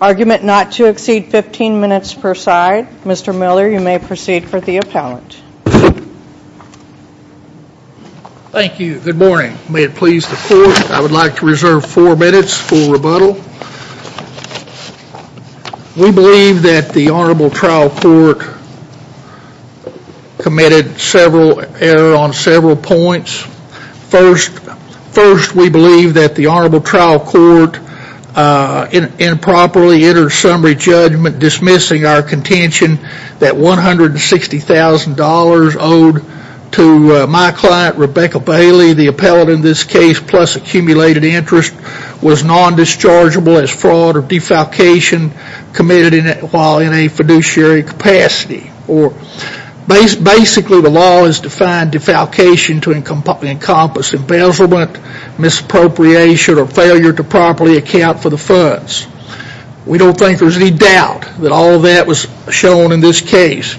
argument not to exceed 15 minutes per side. Mr. Miller, you may proceed for the appellant. Thank you. Good morning. May it please the court, I would like to reserve four minutes for rebuttal. We believe that the Honorable Trial Court does not have the authority to decide whether or not to committed several error on several points. First, we believe that the Honorable Trial Court improperly entered summary judgment dismissing our contention that $160,000 owed to my client Rebecca Bailey, the appellant in this case, plus accumulated interest was non-dischargeable as fraud or defalcation committed while in a fiduciary capacity. Basically, the law has defined defalcation to encompass embezzlement, misappropriation, or failure to properly account for the funds. We don't think there's any doubt that all of that was shown in this case.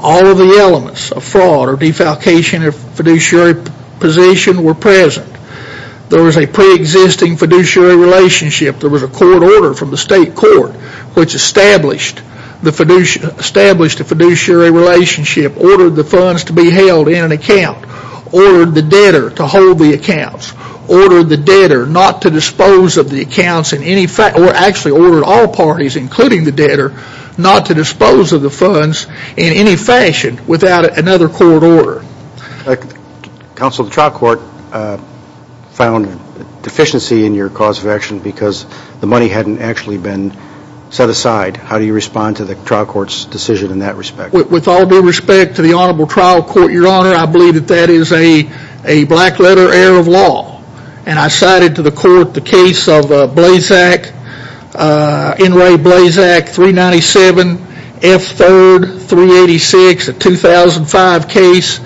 All of the elements of fraud or defalcation in a fiduciary position were present. There was a pre-existing fiduciary relationship. There was a court order from the state court which established a fiduciary relationship, ordered the funds to be held in an account, ordered the debtor to hold the accounts, ordered the debtor not to dispose of the accounts, or actually ordered all parties, including the debtor, not to dispose of the funds in any fashion without another court order. Counsel, the trial court found deficiency in your cause of action because the money hadn't actually been set aside. How do you respond to the trial court's decision in that respect? With all due respect to the Honorable Trial Court, Your Honor, I believe that that is a black letter error of law. And I cited to the court the case of Blazak, N. Ray Blazak, 397 F. 3rd, 386, a 2005 case.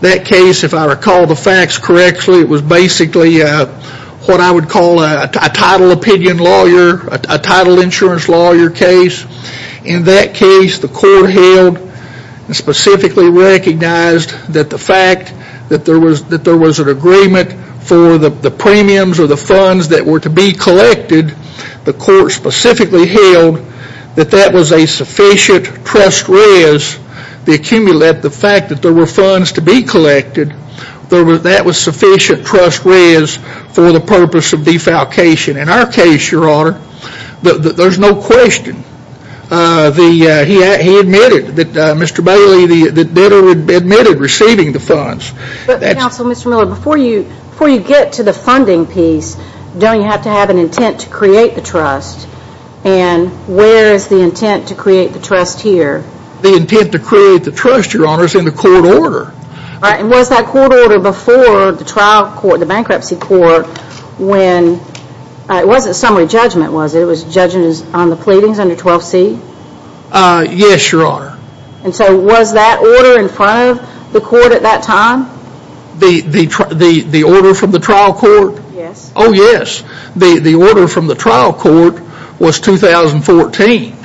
That case, if I recall the facts correctly, it was basically what I would call a title opinion lawyer, a title insurance lawyer case. In that case, the court held and specifically recognized that the fact that there was an agreement for the premiums or the funds that were to be collected, the court specifically held that that was a sufficient trust res to accumulate the fact that there were funds to be collected, that was sufficient trust res for the purpose of defalcation. In our case, Your Honor, there's no question. He admitted that Mr. Bailey admitted receiving the funds. Before you get to the funding piece, don't you have to have an intent to create the trust? And where is the intent to create the trust here? The intent to create the trust, Your Honor, is in the court order. Was that court order before the trial court, the bankruptcy court, when it wasn't summary judgment, was it? It was judgment on the pleadings under 12C? Yes, Your Honor. And so was that order in front of the court at that time? The order from the trial court? Yes. Oh, yes. The order from the trial court was 2014.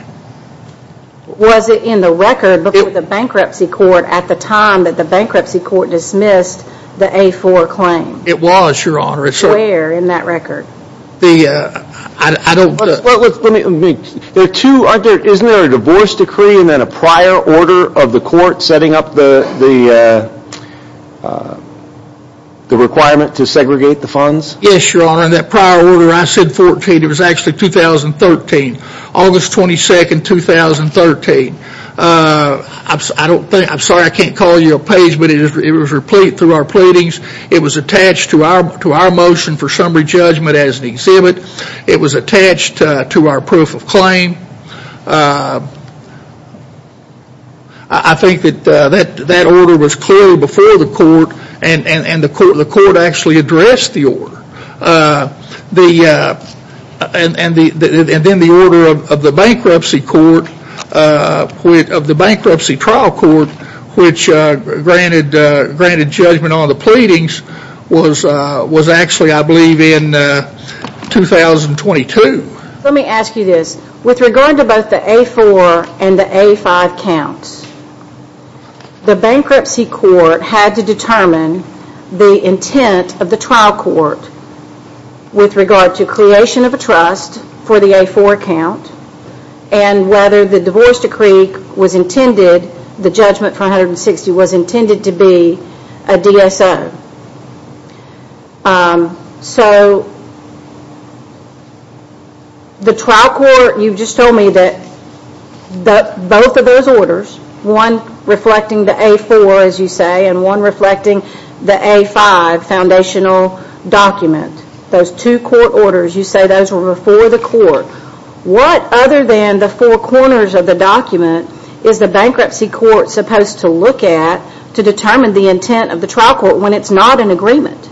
Was it in the record before the bankruptcy court at the time that the bankruptcy court dismissed the A4 claim? It was, Your Honor. Where in that record? Isn't there a divorce decree and then a prior order of the court setting up the requirement to segregate the funds? Yes, Your Honor. In that prior order, I said 14. It was actually 2013. August 22nd, 2013. I'm sorry I can't call you a page, but it was through our pleadings. It was attached to our motion for summary judgment as an exhibit. It was attached to our proof of claim. I think that that order was clearly before the court and the court actually addressed the order. And then the order of the bankruptcy trial court which granted judgment on the pleadings was actually, I believe, in 2022. Let me ask you this. With regard to both the A4 and the A5 counts, the bankruptcy court had to determine the intent of the trial court with regard to creation of a trust for the A4 account and whether the divorce decree was intended, the judgment for 160 was intended to be a DSO. The trial court, you just told me that both of those orders, one reflecting the A4, as you say, and one reflecting the A5 foundational document, those two court orders, you say those were before the court. What other than the four corners of the document is the bankruptcy court supposed to look at to determine the intent of the trial court when it's not an agreement?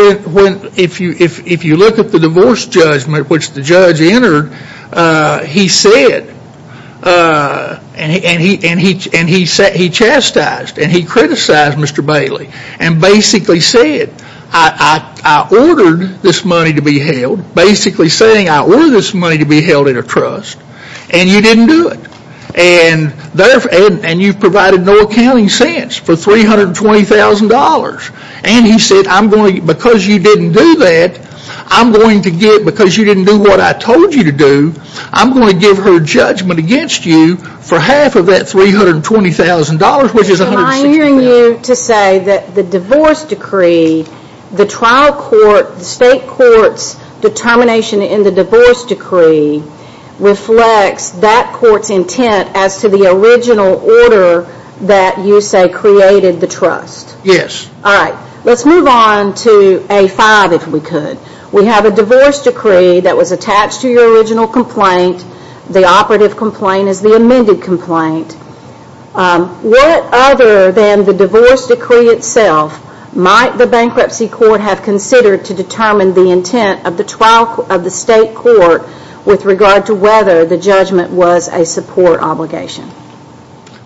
If you look at the divorce judgment which the judge entered, he said and he chastised and he criticized Mr. Bailey and basically said, I ordered this money to be held, basically saying I ordered this money to be held in a trust and you didn't do it. And you've provided no accounting since for $320,000. And he said because you didn't do that, I'm going to get because you didn't do what I told you to do, I'm going to give her judgment against you for half of that $320,000 which is 160,000. Am I hearing you to say that the divorce decree, the trial court, the state court's determination in the divorce decree reflects that court's intent as to the original order that you say created the trust? Yes. Alright, let's move on to A5 if we could. We have a divorce decree that was attached to your original complaint. The operative complaint is the amended complaint. What other than the divorce decree itself might the bankruptcy court have considered to determine the intent of the trial of the state court with regard to whether the judgment was a support obligation?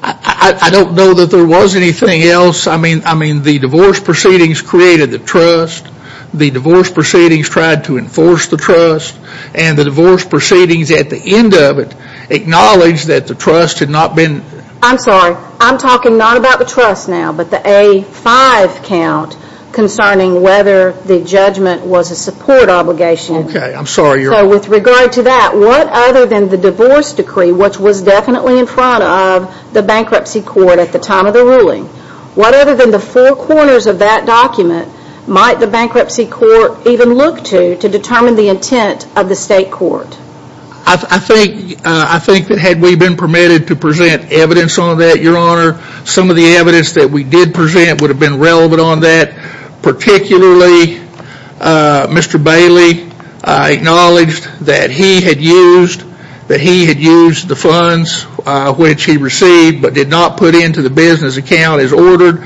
I don't know that there was anything else. I mean the divorce proceedings created the trust. The divorce proceedings tried to enforce the trust. And the divorce proceedings at the end of it acknowledged that the trust had not been. I'm sorry, I'm talking not about the trust now, but the A5 count concerning whether the judgment was a support obligation. So with regard to that, what other than the divorce decree which was definitely in front of the bankruptcy court at the time of the ruling, what other than the four corners of that document might the bankruptcy court even look to to determine the intent of the state court? I think that had we been permitted to present evidence on that, your honor, some of the evidence that we did present would have been relevant on that. Particularly, Mr. Bailey acknowledged that he had used the funds which he received but did not put into the business account as ordered.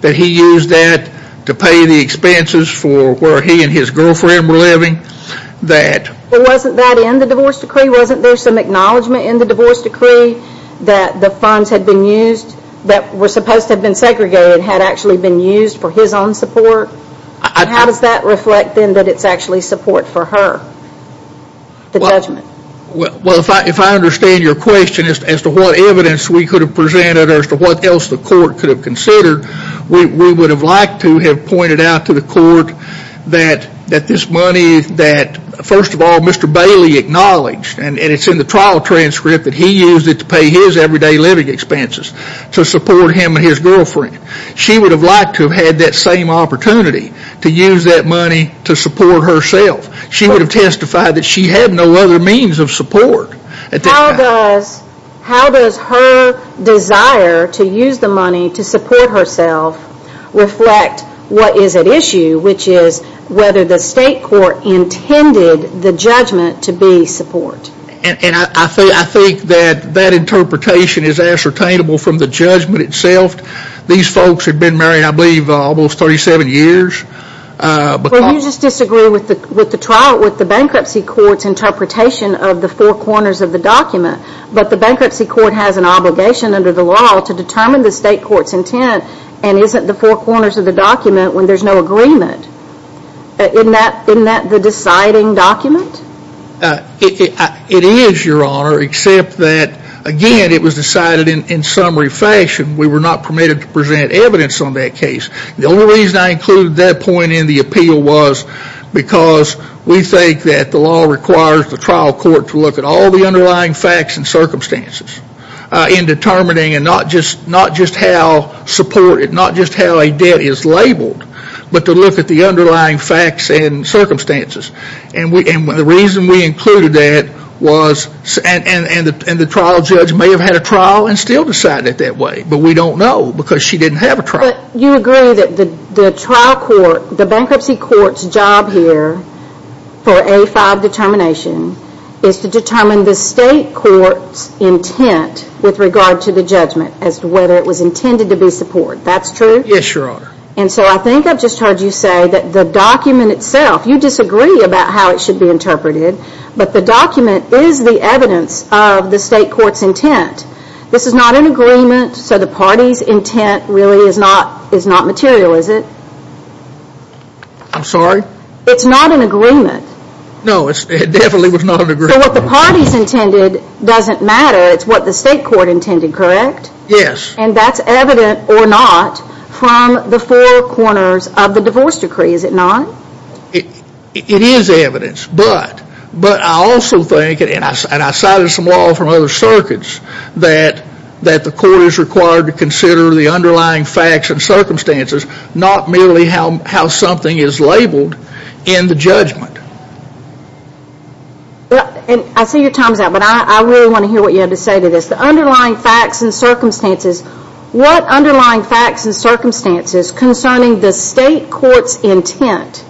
That he used that to pay the expenses for where he and his girlfriend were living. Wasn't that in the divorce decree? Wasn't there some acknowledgement in the divorce decree that the funds had been used that were supposed to have been segregated had actually been used for his own support? How does that reflect then that it's actually support for her? The judgment. Well, if I understand your question as to what evidence we could have presented or as to what else the court could have considered, we would have liked to have pointed out to the court that this money that first of all, Mr. Bailey acknowledged and it's in the trial transcript that he used it to pay his everyday living expenses to support him and his girlfriend. She would have liked to have had that same opportunity to use that money to support herself. She would have testified that she had no other means of support. How does her desire to use the money to support herself reflect what is at issue which is whether the state court intended the judgment to be support? And I think that interpretation is ascertainable from the judgment itself. These folks had been married I believe almost 37 years. Well, you just disagree with the trial, with the bankruptcy court's interpretation of the four corners of the document. But the bankruptcy court has an obligation under the law to determine the state court's intent and isn't the four corners of the document when there's no agreement. Isn't that the deciding document? It is, Your Honor, except that again it was decided in summary fashion. We were not permitted to present evidence on that case. The only reason I included that point in the appeal was because we think that the law requires the trial court to look at all the underlying facts and circumstances in determining, and not just how supported, not just how a debt is labeled, but to look at the underlying facts and circumstances. And the reason we included that was, and the trial judge may have had a trial and still decided it that way, but we don't know because she didn't have a trial. But you agree that the bankruptcy court's job here for A5 determination is to determine the state court's intent with regard to the judgment as to whether it was intended to be support. That's true? Yes, Your Honor. And so I think I've just heard you say that the document itself, you disagree about how it should be interpreted, but the document is the evidence of the state court's intent. This is not an agreement, so the party's intent really is not material, is it? I'm sorry? It's not an agreement. No, it definitely was not an agreement. So what the party's intended doesn't matter, it's what the state court intended, correct? Yes. And that's evident or not from the four corners of the divorce decree, is it not? It is evidence, but I also think, and I cited some law from other circuits, that the court is required to consider the underlying facts and circumstances, not merely how something is labeled in the judgment. I see your time's up, but I really want to hear what you have to say to this. The underlying facts and circumstances, what underlying facts and circumstances concerning the state court's intent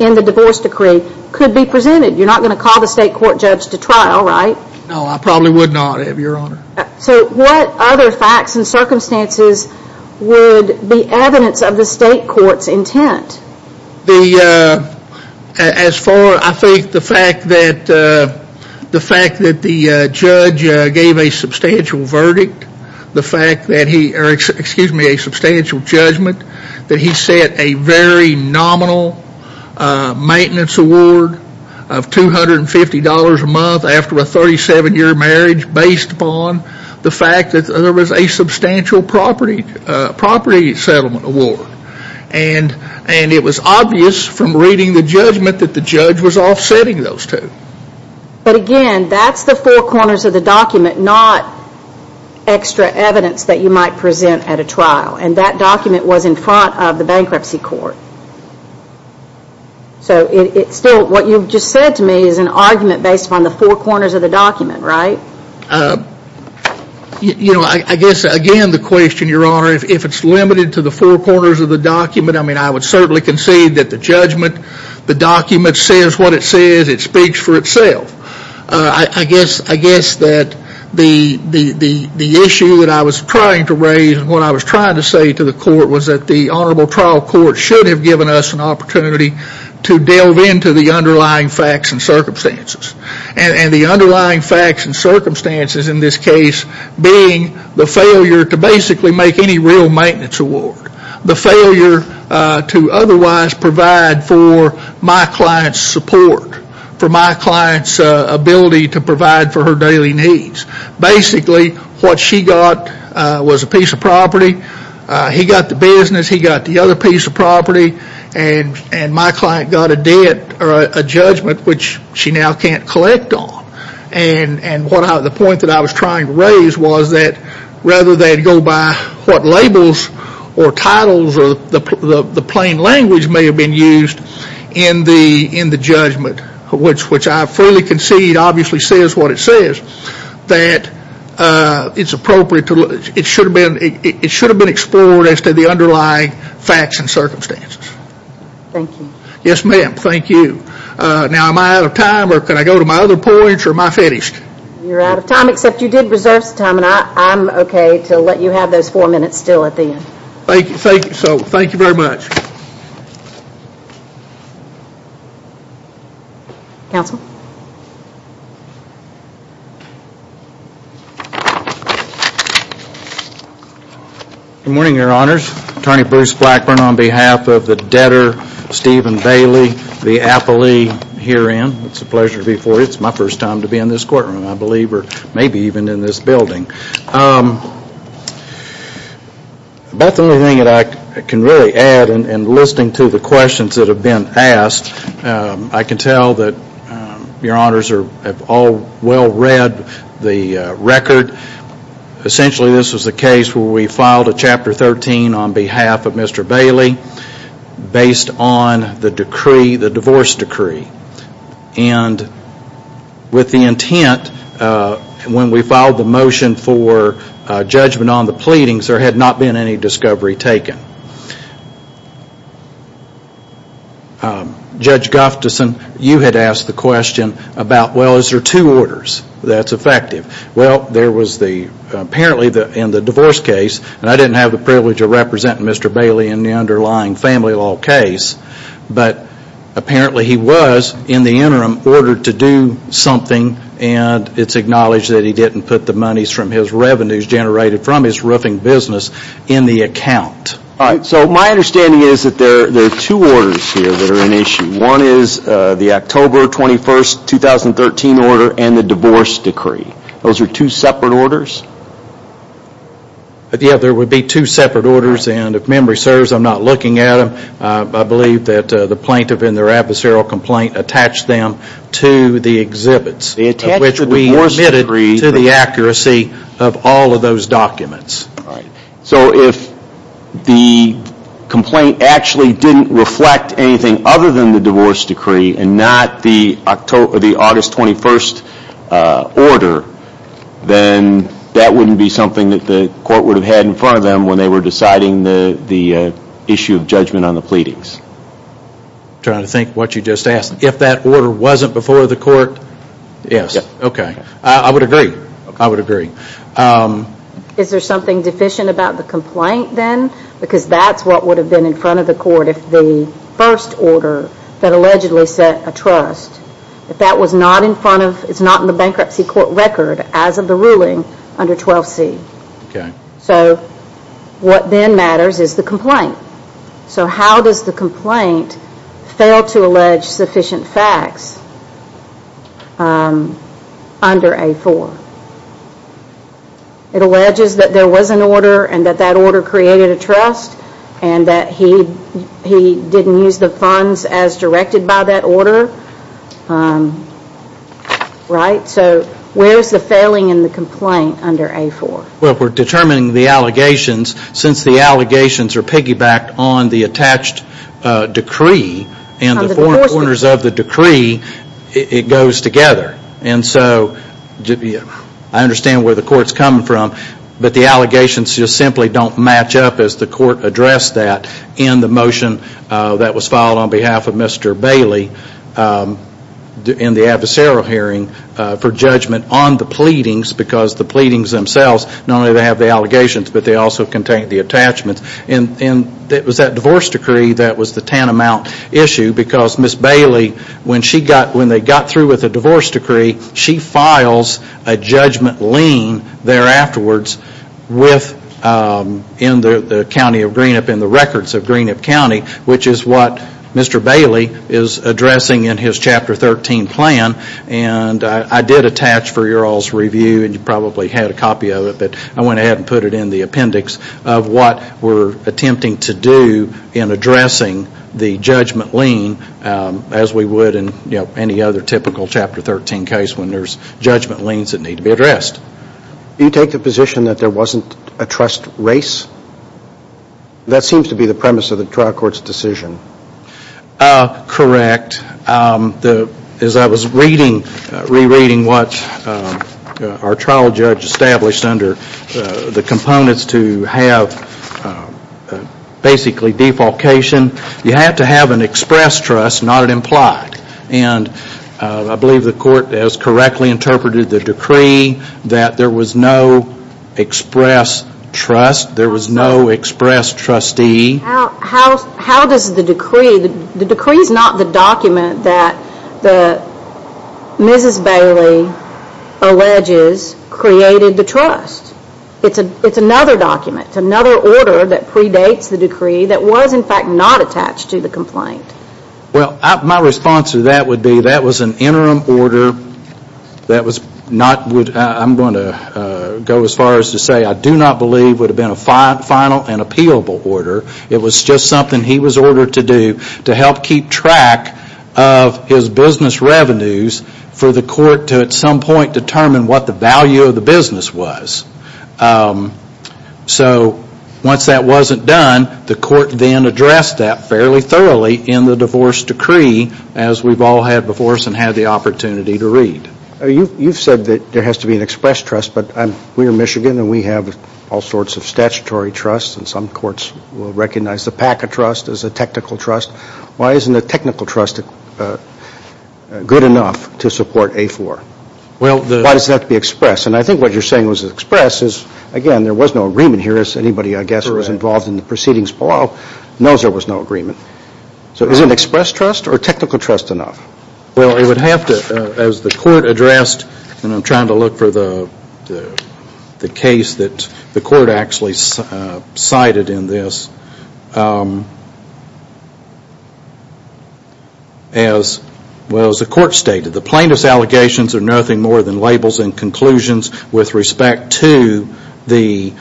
in the divorce decree could be presented? You're not going to call the state court judge to trial, right? No, I probably would not, Your Honor. So what other facts and circumstances would be evidence of the state court's intent? As far, I think the fact that the judge gave a substantial judgment, that he set a very nominal maintenance award of $250 a month after a 37-year marriage based upon the fact that there was a substantial property settlement award. And it was obvious from reading the judgment that the judge was offsetting those two. But again, that's the four corners of the document, not extra evidence that you might present at a trial. And that document was in front of the bankruptcy court. So still, what you've just said to me is an argument based upon the four corners of the document, right? You know, I guess again the question, Your Honor, if it's limited to the four corners of the document, I mean, I would certainly concede that the judgment, the document says what it says. It speaks for itself. I guess that the issue that I was trying to raise when I was trying to say to the court was that the honorable trial court should have given us an opportunity to delve into the underlying facts and circumstances. And the underlying facts and circumstances in this case being the failure to basically make any real maintenance award. The failure to otherwise provide for my client's support, for my client's ability to provide for her daily needs. Basically, what she got was a piece of property. He got the business. He got the other piece of property. And my client got a debt or a judgment which she now can't collect on. And the point that I was trying to raise was that rather than go by what labels or titles or the plain language may have been used in the judgment, which I fully concede obviously says what it says, that it's appropriate to, it should have been explored as to the underlying facts and circumstances. Yes ma'am. Thank you. Now am I out of time or can I go to my other points or am I finished? You're out of time except you did reserve some time and I'm okay to let you have those four minutes still at the end. Thank you. So thank you very much. Counsel? Good morning Your Honors. Attorney Bruce Blackburn on behalf of the debtor Stephen Bailey, the appellee herein. It's a pleasure to be before you. It's my first time to be in this courtroom I believe or maybe even in this building. About the only thing that I can really add in listening to the questions that have been asked, I can tell that Your Honors have all well read the record. Essentially this was the case where we filed a Chapter 13 on behalf of Mr. Bailey based on the divorce decree. With the intent when we filed the motion for judgment on the pleadings there had not been any discovery taken. Judge Gufteson, you had asked the question about well is there two orders that's effective. Well there was the apparently in the divorce case and I didn't have the privilege of representing Mr. Bailey in the underlying family law case, but apparently he was in the interim ordered to do something and it's acknowledged that he didn't put the monies from his revenues generated from his roofing business in the account. Alright, so my understanding is that there are two orders here that are in issue. One is the October 21, 2013 order and the divorce decree. Those are two separate orders? Yeah, there would be two separate orders and if memory serves I'm not looking at them. I believe that the plaintiff in their adversarial complaint attached them to the exhibits of which we admitted to the accuracy of all of those documents. So if the complaint actually didn't reflect anything other than the divorce decree and not the August 21 order, then that wouldn't be something that the court would have had in front of them when they were deciding the issue of judgment on the pleadings. I'm trying to think what you just asked. If that order wasn't before the court? Yes. Okay. I would agree. I would agree. Is there something deficient about the complaint then? Because that's what would have been in front of the court if the first order that allegedly set a trust, if that was not in front of, it's not in the bankruptcy court record as of the ruling under 12C. Okay. So what then matters is the complaint. So how does the complaint fail to allege sufficient facts under A4? It alleges that there was an order and that that order created a trust and that he didn't use the funds as directed by that order. Right? So where is the failing in the complaint under A4? Well, we're determining the allegations. Since the allegations are piggybacked on the attached decree and the four corners of the decree, it goes together. And so I understand where the court's coming from, but the allegations just simply don't match up as the court addressed that in the motion that was filed on behalf of Mr. Bailey in the adversarial hearing for judgment on the pleadings because the pleadings themselves, not only do they have the allegations, but they also contain the attachments. And it was that divorce decree that was the tantamount issue because Ms. Bailey, when they got through with the divorce decree, she files a judgment lien there afterwards in the county of Greenup, in the records of Greenup County, which is what Mr. Bailey is addressing in his Chapter 13 plan. And I did attach for your all's review, and you probably had a copy of it, but I went ahead and put it in the appendix of what we're attempting to do in addressing the judgment lien as we would in any other typical Chapter 13 case when there's judgment liens that need to be addressed. Do you take the position that there wasn't a trust race? That seems to be the premise of the trial court's decision. Correct. As I was reading, rereading what our trial judge established under the components to have basically defalcation, you have to have an express trust, not an implied. And I believe the court has correctly interpreted the decree that there was no express trust, there was no express trustee. How does the decree, the decree is not the document that the, Mrs. Bailey alleges created the trust. It's another document, another order that predates the decree that was in fact not attached to the complaint. Well, my response to that would be that was an interim order that was not, I'm going to go as far as to say I do not believe would have been a final and appealable order. It was just something he was ordered to do to help keep track of his business revenues for the court to at some point determine what the value of the business was. So once that wasn't done, the court then addressed that fairly thoroughly in the divorce decree as we've all had before us and had the opportunity to read. You've said that there has to be an express trust, but we're Michigan and we have all sorts of statutory trusts and some courts will recognize the PACA trust as a technical trust. Why isn't a technical trust good enough to support A4? Why does it have to be express? And I think what you're saying was express is, again, there was no agreement here as anybody I guess who was involved in the proceedings below knows there was no agreement. So is an express trust or a technical trust enough? Well, it would have to, as the court addressed, and I'm trying to look for the case that the court actually cited in this, as the court stated. The plaintiff's allegations are nothing more than labels and conclusions with respect to the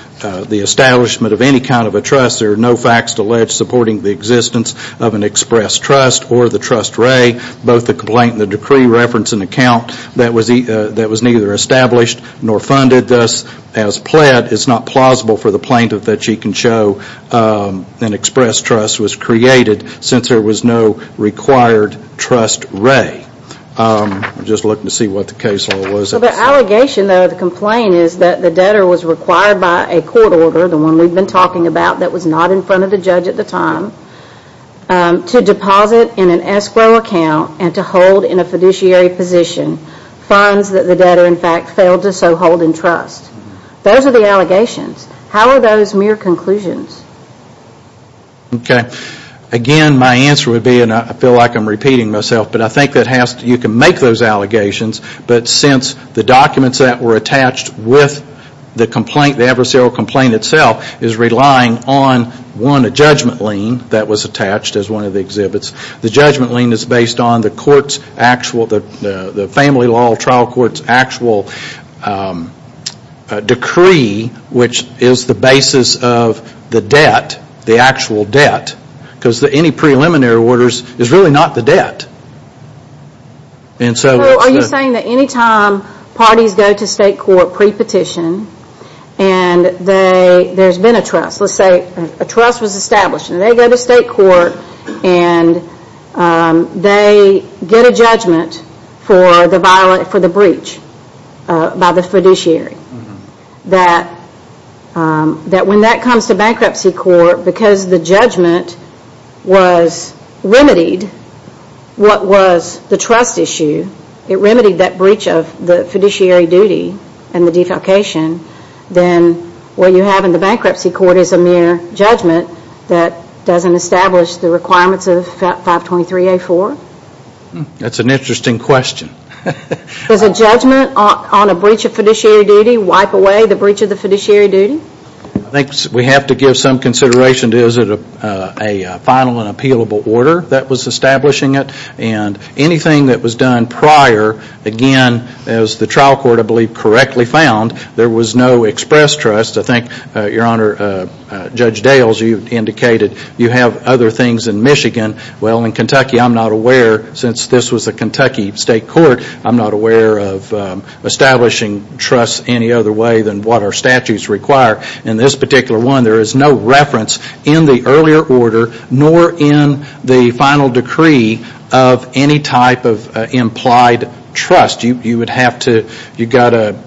establishment of any kind of a trust. There are no facts to allege supporting the existence of an express trust or the trust re, both the complaint and the decree reference an account that was neither established nor funded. Thus, as pled, it's not plausible for the plaintiff that she can show an express trust was created since there was no required trust re. I'm just looking to see what the case law was. The allegation though of the complaint is that the debtor was required by a court order, the one we've been talking about that was not in front of the judge at the time, to deposit in an escrow account and to hold in a fiduciary position funds that the debtor in fact failed to so hold in trust. Those are the allegations. How are those mere conclusions? Okay. Again, my answer would be, and I feel like I'm repeating myself, but I think that you can make those allegations, but since the documents that were attached with the complaint, the adversarial complaint itself, is relying on one, a judgment lien that was attached as one of the exhibits. The judgment lien is based on the court's actual, the family law trial court's actual decree, which is the basis of the debt, the actual debt, because any preliminary orders is really not the debt. Are you saying that any time parties go to state court pre-petition and there's been a trust, let's say a trust was established and they go to state court and they get a judgment for the breach by the fiduciary, that when that comes to bankruptcy court, because the judgment was remedied, what was the trust issue, it remedied that breach of the fiduciary duty and the defalcation, then what you have in the bankruptcy court is a mere judgment that doesn't establish the requirements of 523A4? That's an interesting question. Does a judgment on a breach of fiduciary duty wipe away the breach of the fiduciary duty? I think we have to give some consideration to is it a final and appealable order that was establishing it and anything that was done prior, again, as the trial court, I believe, correctly found, there was no express trust. I think, Your Honor, Judge Dales, you indicated you have other things in Michigan. Well, in Kentucky, I'm not aware, since this was a Kentucky state court, I'm not aware of establishing trust any other way than what our statutes require. In this particular one, there is no reference in the earlier order nor in the final decree of any type of implied trust. You would have to, you've got to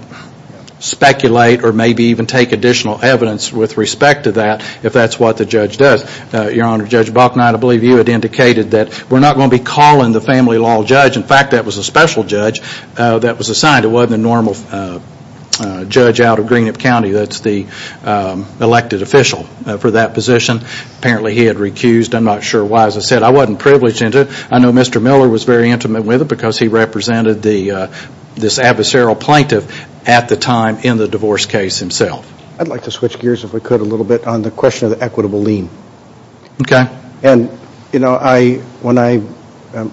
speculate or maybe even take additional evidence with respect to that if that's what the judge does. Your Honor, Judge Balknot, I believe you had indicated that we're not going to be calling the family law judge. In fact, that was a special judge that was assigned. It wasn't a normal judge out of Greenup County that's the elected official for that position. Apparently, he had recused. I'm not sure why. As I said, I wasn't privileged into it. I know Mr. Miller was very intimate with it because he represented this adversarial plaintiff at the time in the divorce case himself. I'd like to switch gears, if we could, a little bit on the question of the equitable lien. Okay. And, you know, when I'm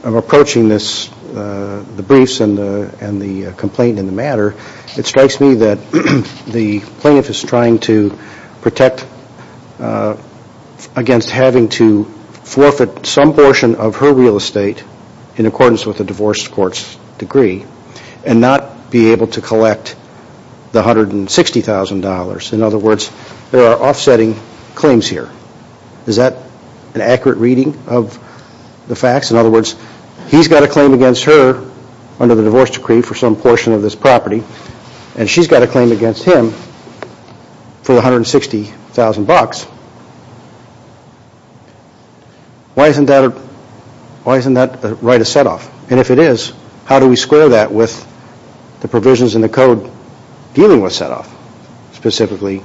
approaching this, the briefs and the complaint in the matter, it strikes me that the plaintiff is trying to protect against having to forfeit some portion of her real estate in accordance with the divorce court's decree and not be able to collect the $160,000. In other words, there are offsetting claims here. Is that an accurate reading of the facts? In other words, he's got a claim against her under the divorce decree for some portion of this property, and she's got a claim against him for $160,000. Why isn't that a right of setoff? And if it is, how do we square that with the provisions in the code dealing with setoff? Specifically,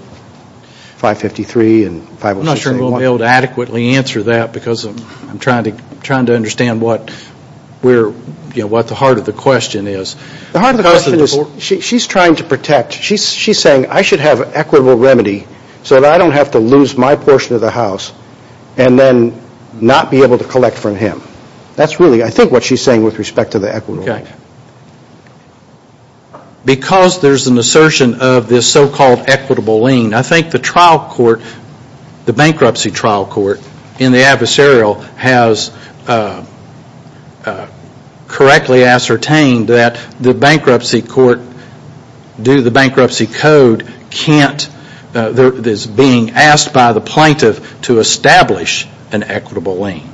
553 and 506. I'm not sure we'll be able to adequately answer that because I'm trying to understand what the heart of the question is. The heart of the question is she's trying to protect. She's saying I should have equitable remedy so that I don't have to lose my portion of the house and then not be able to collect from him. That's really, I think, what she's saying with respect to the so-called equitable lien. I think the bankruptcy trial court in the adversarial has correctly ascertained that the bankruptcy court, due to the bankruptcy code, is being asked by the plaintiff to establish an equitable lien.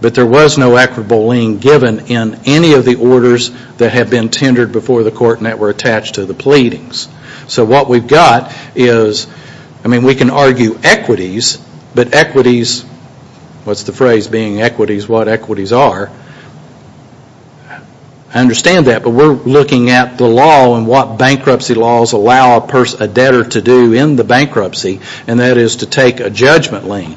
But there was no equitable lien given in any of the orders that have been tendered before the court and that were attached to the pleadings. What we've got is, I mean, we can argue equities, but equities, what's the phrase being equities, what equities are? I understand that, but we're looking at the law and what bankruptcy laws allow a debtor to do in the bankruptcy, and that is to take a judgment lien.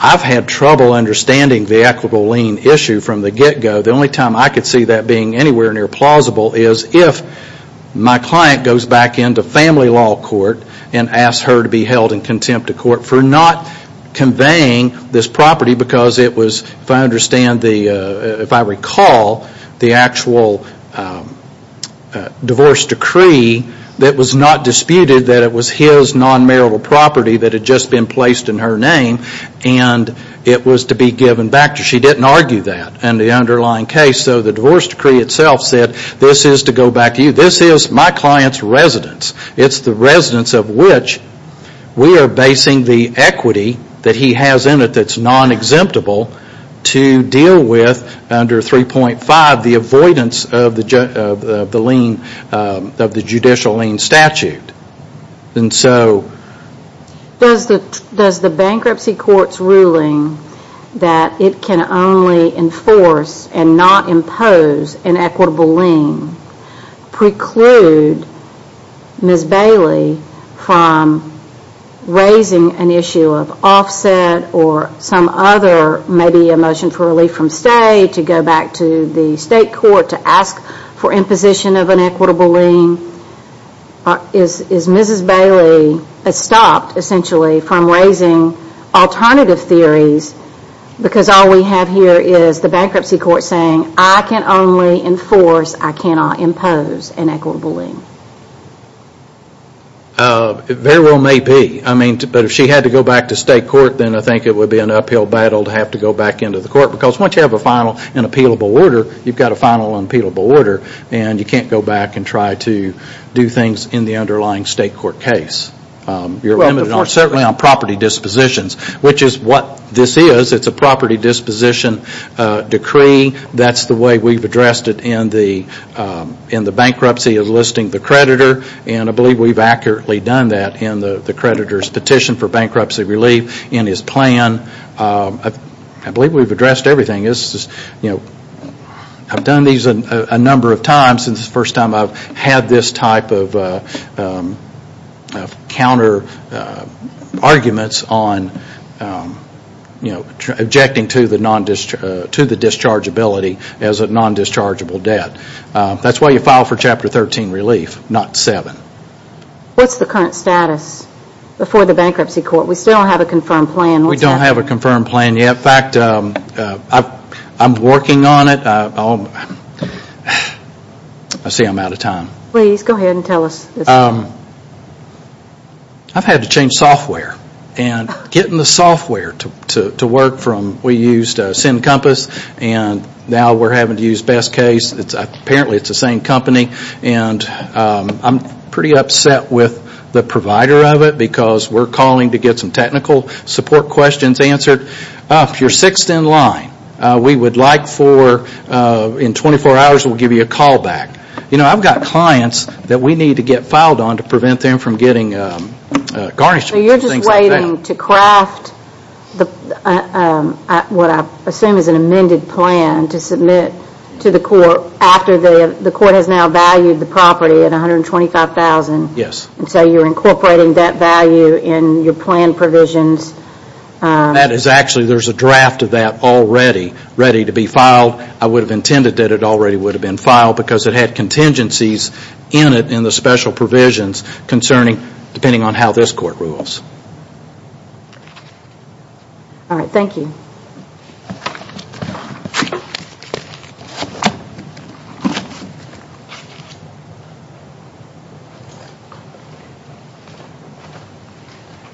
I've had trouble understanding the equitable lien issue from the get-go. The only time I could see that being anywhere near plausible is if my client goes back into family law court and asks her to be held in contempt of court for not conveying this property because it was, if I understand, if I recall, the actual divorce decree that was not and it was to be given back to her. She didn't argue that in the underlying case, so the divorce decree itself said this is to go back to you. This is my client's residence. It's the residence of which we are basing the equity that he has in it that's non-exemptable to deal with under 3.5, the avoidance of the judicial lien statute. Does the bankruptcy court's ruling that it can only enforce and not impose an equitable lien preclude Ms. Bailey from raising an issue of offset or some other, maybe a motion for relief from stay to go back to the state court to ask for imposition of an equitable lien? Is Ms. Bailey stopped, essentially, from raising alternative theories because all we have here is the bankruptcy court saying I can only enforce, I cannot impose an equitable lien? Very well may be, but if she had to go back to state court, then I think it would be an uphill battle to have to go back into the court because once you have a final and appealable order, you've got a final and appealable order and you can't go back and try to do things in the underlying state court case. You're limited certainly on property dispositions, which is what this is. It's a property disposition decree. That's the way we've addressed it in the bankruptcy of listing the creditor, and I believe we've accurately done that in the creditor's petition for bankruptcy relief in his plan. I believe we've addressed everything. I've done these a number of times. This is the first time I've had this type of counter arguments on objecting to the dischargeability as a non-dischargeable debt. That's why you file for Chapter 13 relief, not 7. What's the current status before the bankruptcy court? We still don't have a confirmed plan. We don't have a confirmed plan yet. In fact, I'm working on it. I see I'm out of time. Please go ahead and tell us. I've had to change software and getting the software to work from we used SIN Compass, and now we're having to use BestCase. Apparently it's the same company, and I'm pretty upset with the provider of it because we're calling to get some technical support questions answered. If you're sixth in line, we would like for in 24 hours we'll give you a call back. I've got clients that we need to get filed on to prevent them from getting garnished. You're just waiting to craft what I assume is an amended plan to submit to the court after the court has now valued the property at $125,000. Yes. So you're incorporating that value in your plan provisions. That is actually, there's a draft of that already ready to be filed. I would have intended that it already would have been filed because it had contingencies in it in the special provisions concerning, depending on how this court rules. Alright, thank you.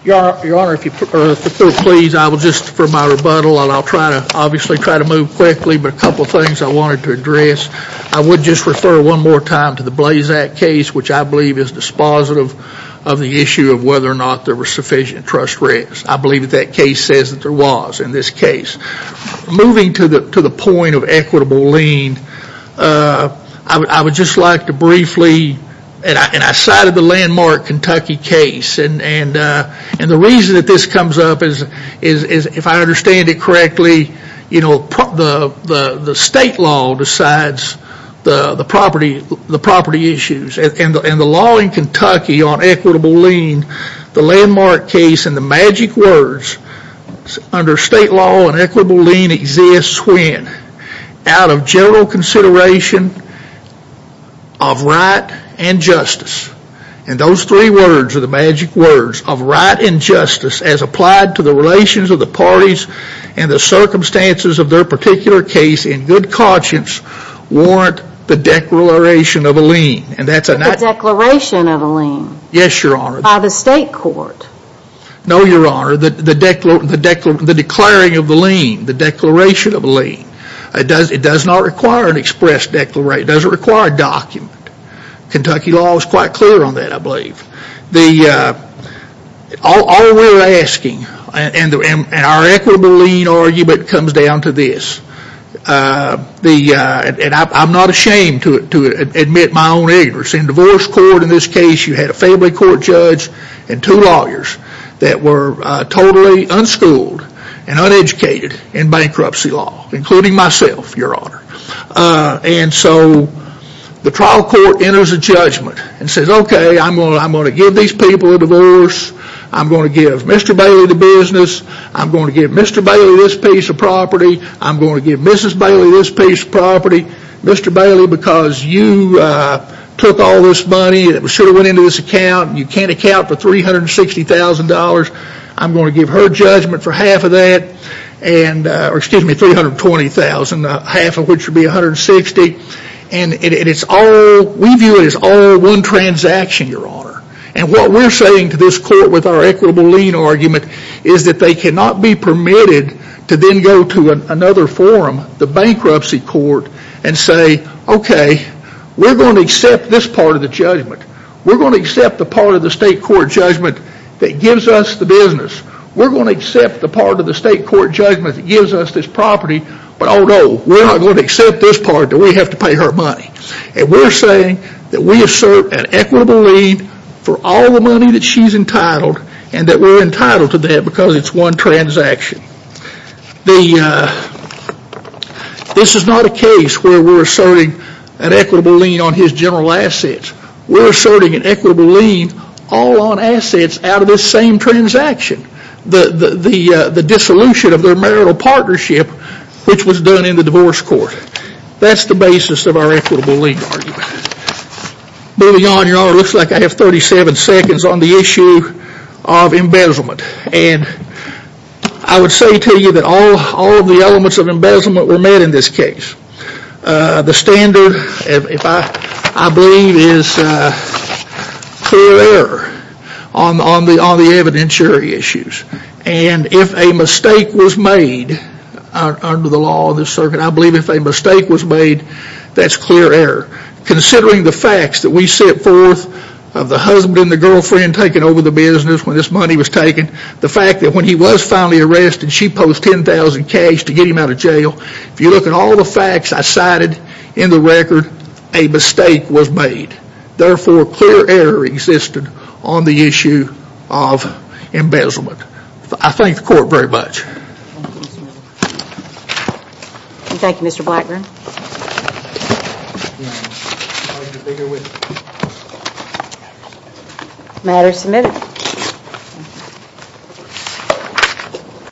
Your Honor, if you'll please, I will just for my rebuttal, and I'll try to move quickly, but a couple of things I wanted to address. I would just refer one more time to the Blazack case, which I believe is dispositive of the issue of whether or not there were sufficient trust risks. I believe that that case says that there was in this case. Moving to the point of equitable lien, I would just like to briefly, and I cited the landmark Kentucky case, and the reason that this comes up is, if I understand it correctly, the state law decides the property issues, and the law in Kentucky on equitable lien, the landmark case, and the magic words under state law on equitable lien exists when out of general consideration of right and justice. And those three words are the magic words of right and justice as applied to the relations of the parties and the circumstances of their particular case in good conscience warrant the declaration of a lien. The declaration of a lien? Yes, Your Honor. By the state court? No, Your Honor, the declaring of the lien, the declaration of a lien. It does not require an express declaration. It doesn't require a document. Kentucky law is quite clear on that, I believe. All we're asking, and our equitable lien argument comes down to this, and I'm not ashamed to admit my own ignorance. In divorce court in this case, you had a family court judge and two lawyers that were totally unschooled and uneducated in bankruptcy law, including myself, Your Honor. And so the trial court enters a judgment and says, okay, I'm going to give these people a divorce. I'm going to give Mr. Bailey the business. I'm going to give Mr. Bailey this piece of property. I'm going to give Mrs. Bailey this piece of property. Mr. Bailey, because you took all this money that should have went into this account, and you can't account for $360,000, I'm going to give her judgment for half of that, or excuse me, $320,000, half of which would be $160,000. And we view it as all one transaction, Your Honor. And what we're saying to this court with our equitable lien argument is that they cannot be permitted to then go to another forum, the bankruptcy court, and say, okay, we're going to accept this part of the judgment. We're going to accept the part of the state court judgment that gives us the business. We're going to accept the part of the state court judgment that gives us this property, but oh no, we're not going to accept this part that we have to pay her money. And we're saying that we assert an equitable lien for all the money that she's entitled, and that we're entitled to that because it's all one transaction. This is not a case where we're asserting an equitable lien on his general assets. We're asserting an equitable lien all on assets out of this same transaction. The dissolution of their marital partnership, which was done in the divorce court. That's the basis of our equitable lien argument. Moving on, Your Honor, it looks like I have 37 seconds on the issue of embezzlement. I would say to you that all of the elements of embezzlement were met in this case. The standard, I believe, is clear error on the evidentiary issues. If a mistake was made under the law of this circuit, I believe if a mistake was made, that's clear error. Considering the facts that we set forth of the husband and the girlfriend taking over the business when this money was taken, the fact that when he was finally arrested, she posed $10,000 cash to get him out of jail. If you look at all the facts I cited in the record, a mistake was made. Therefore, clear error existed on the issue of embezzlement. I thank the court very much.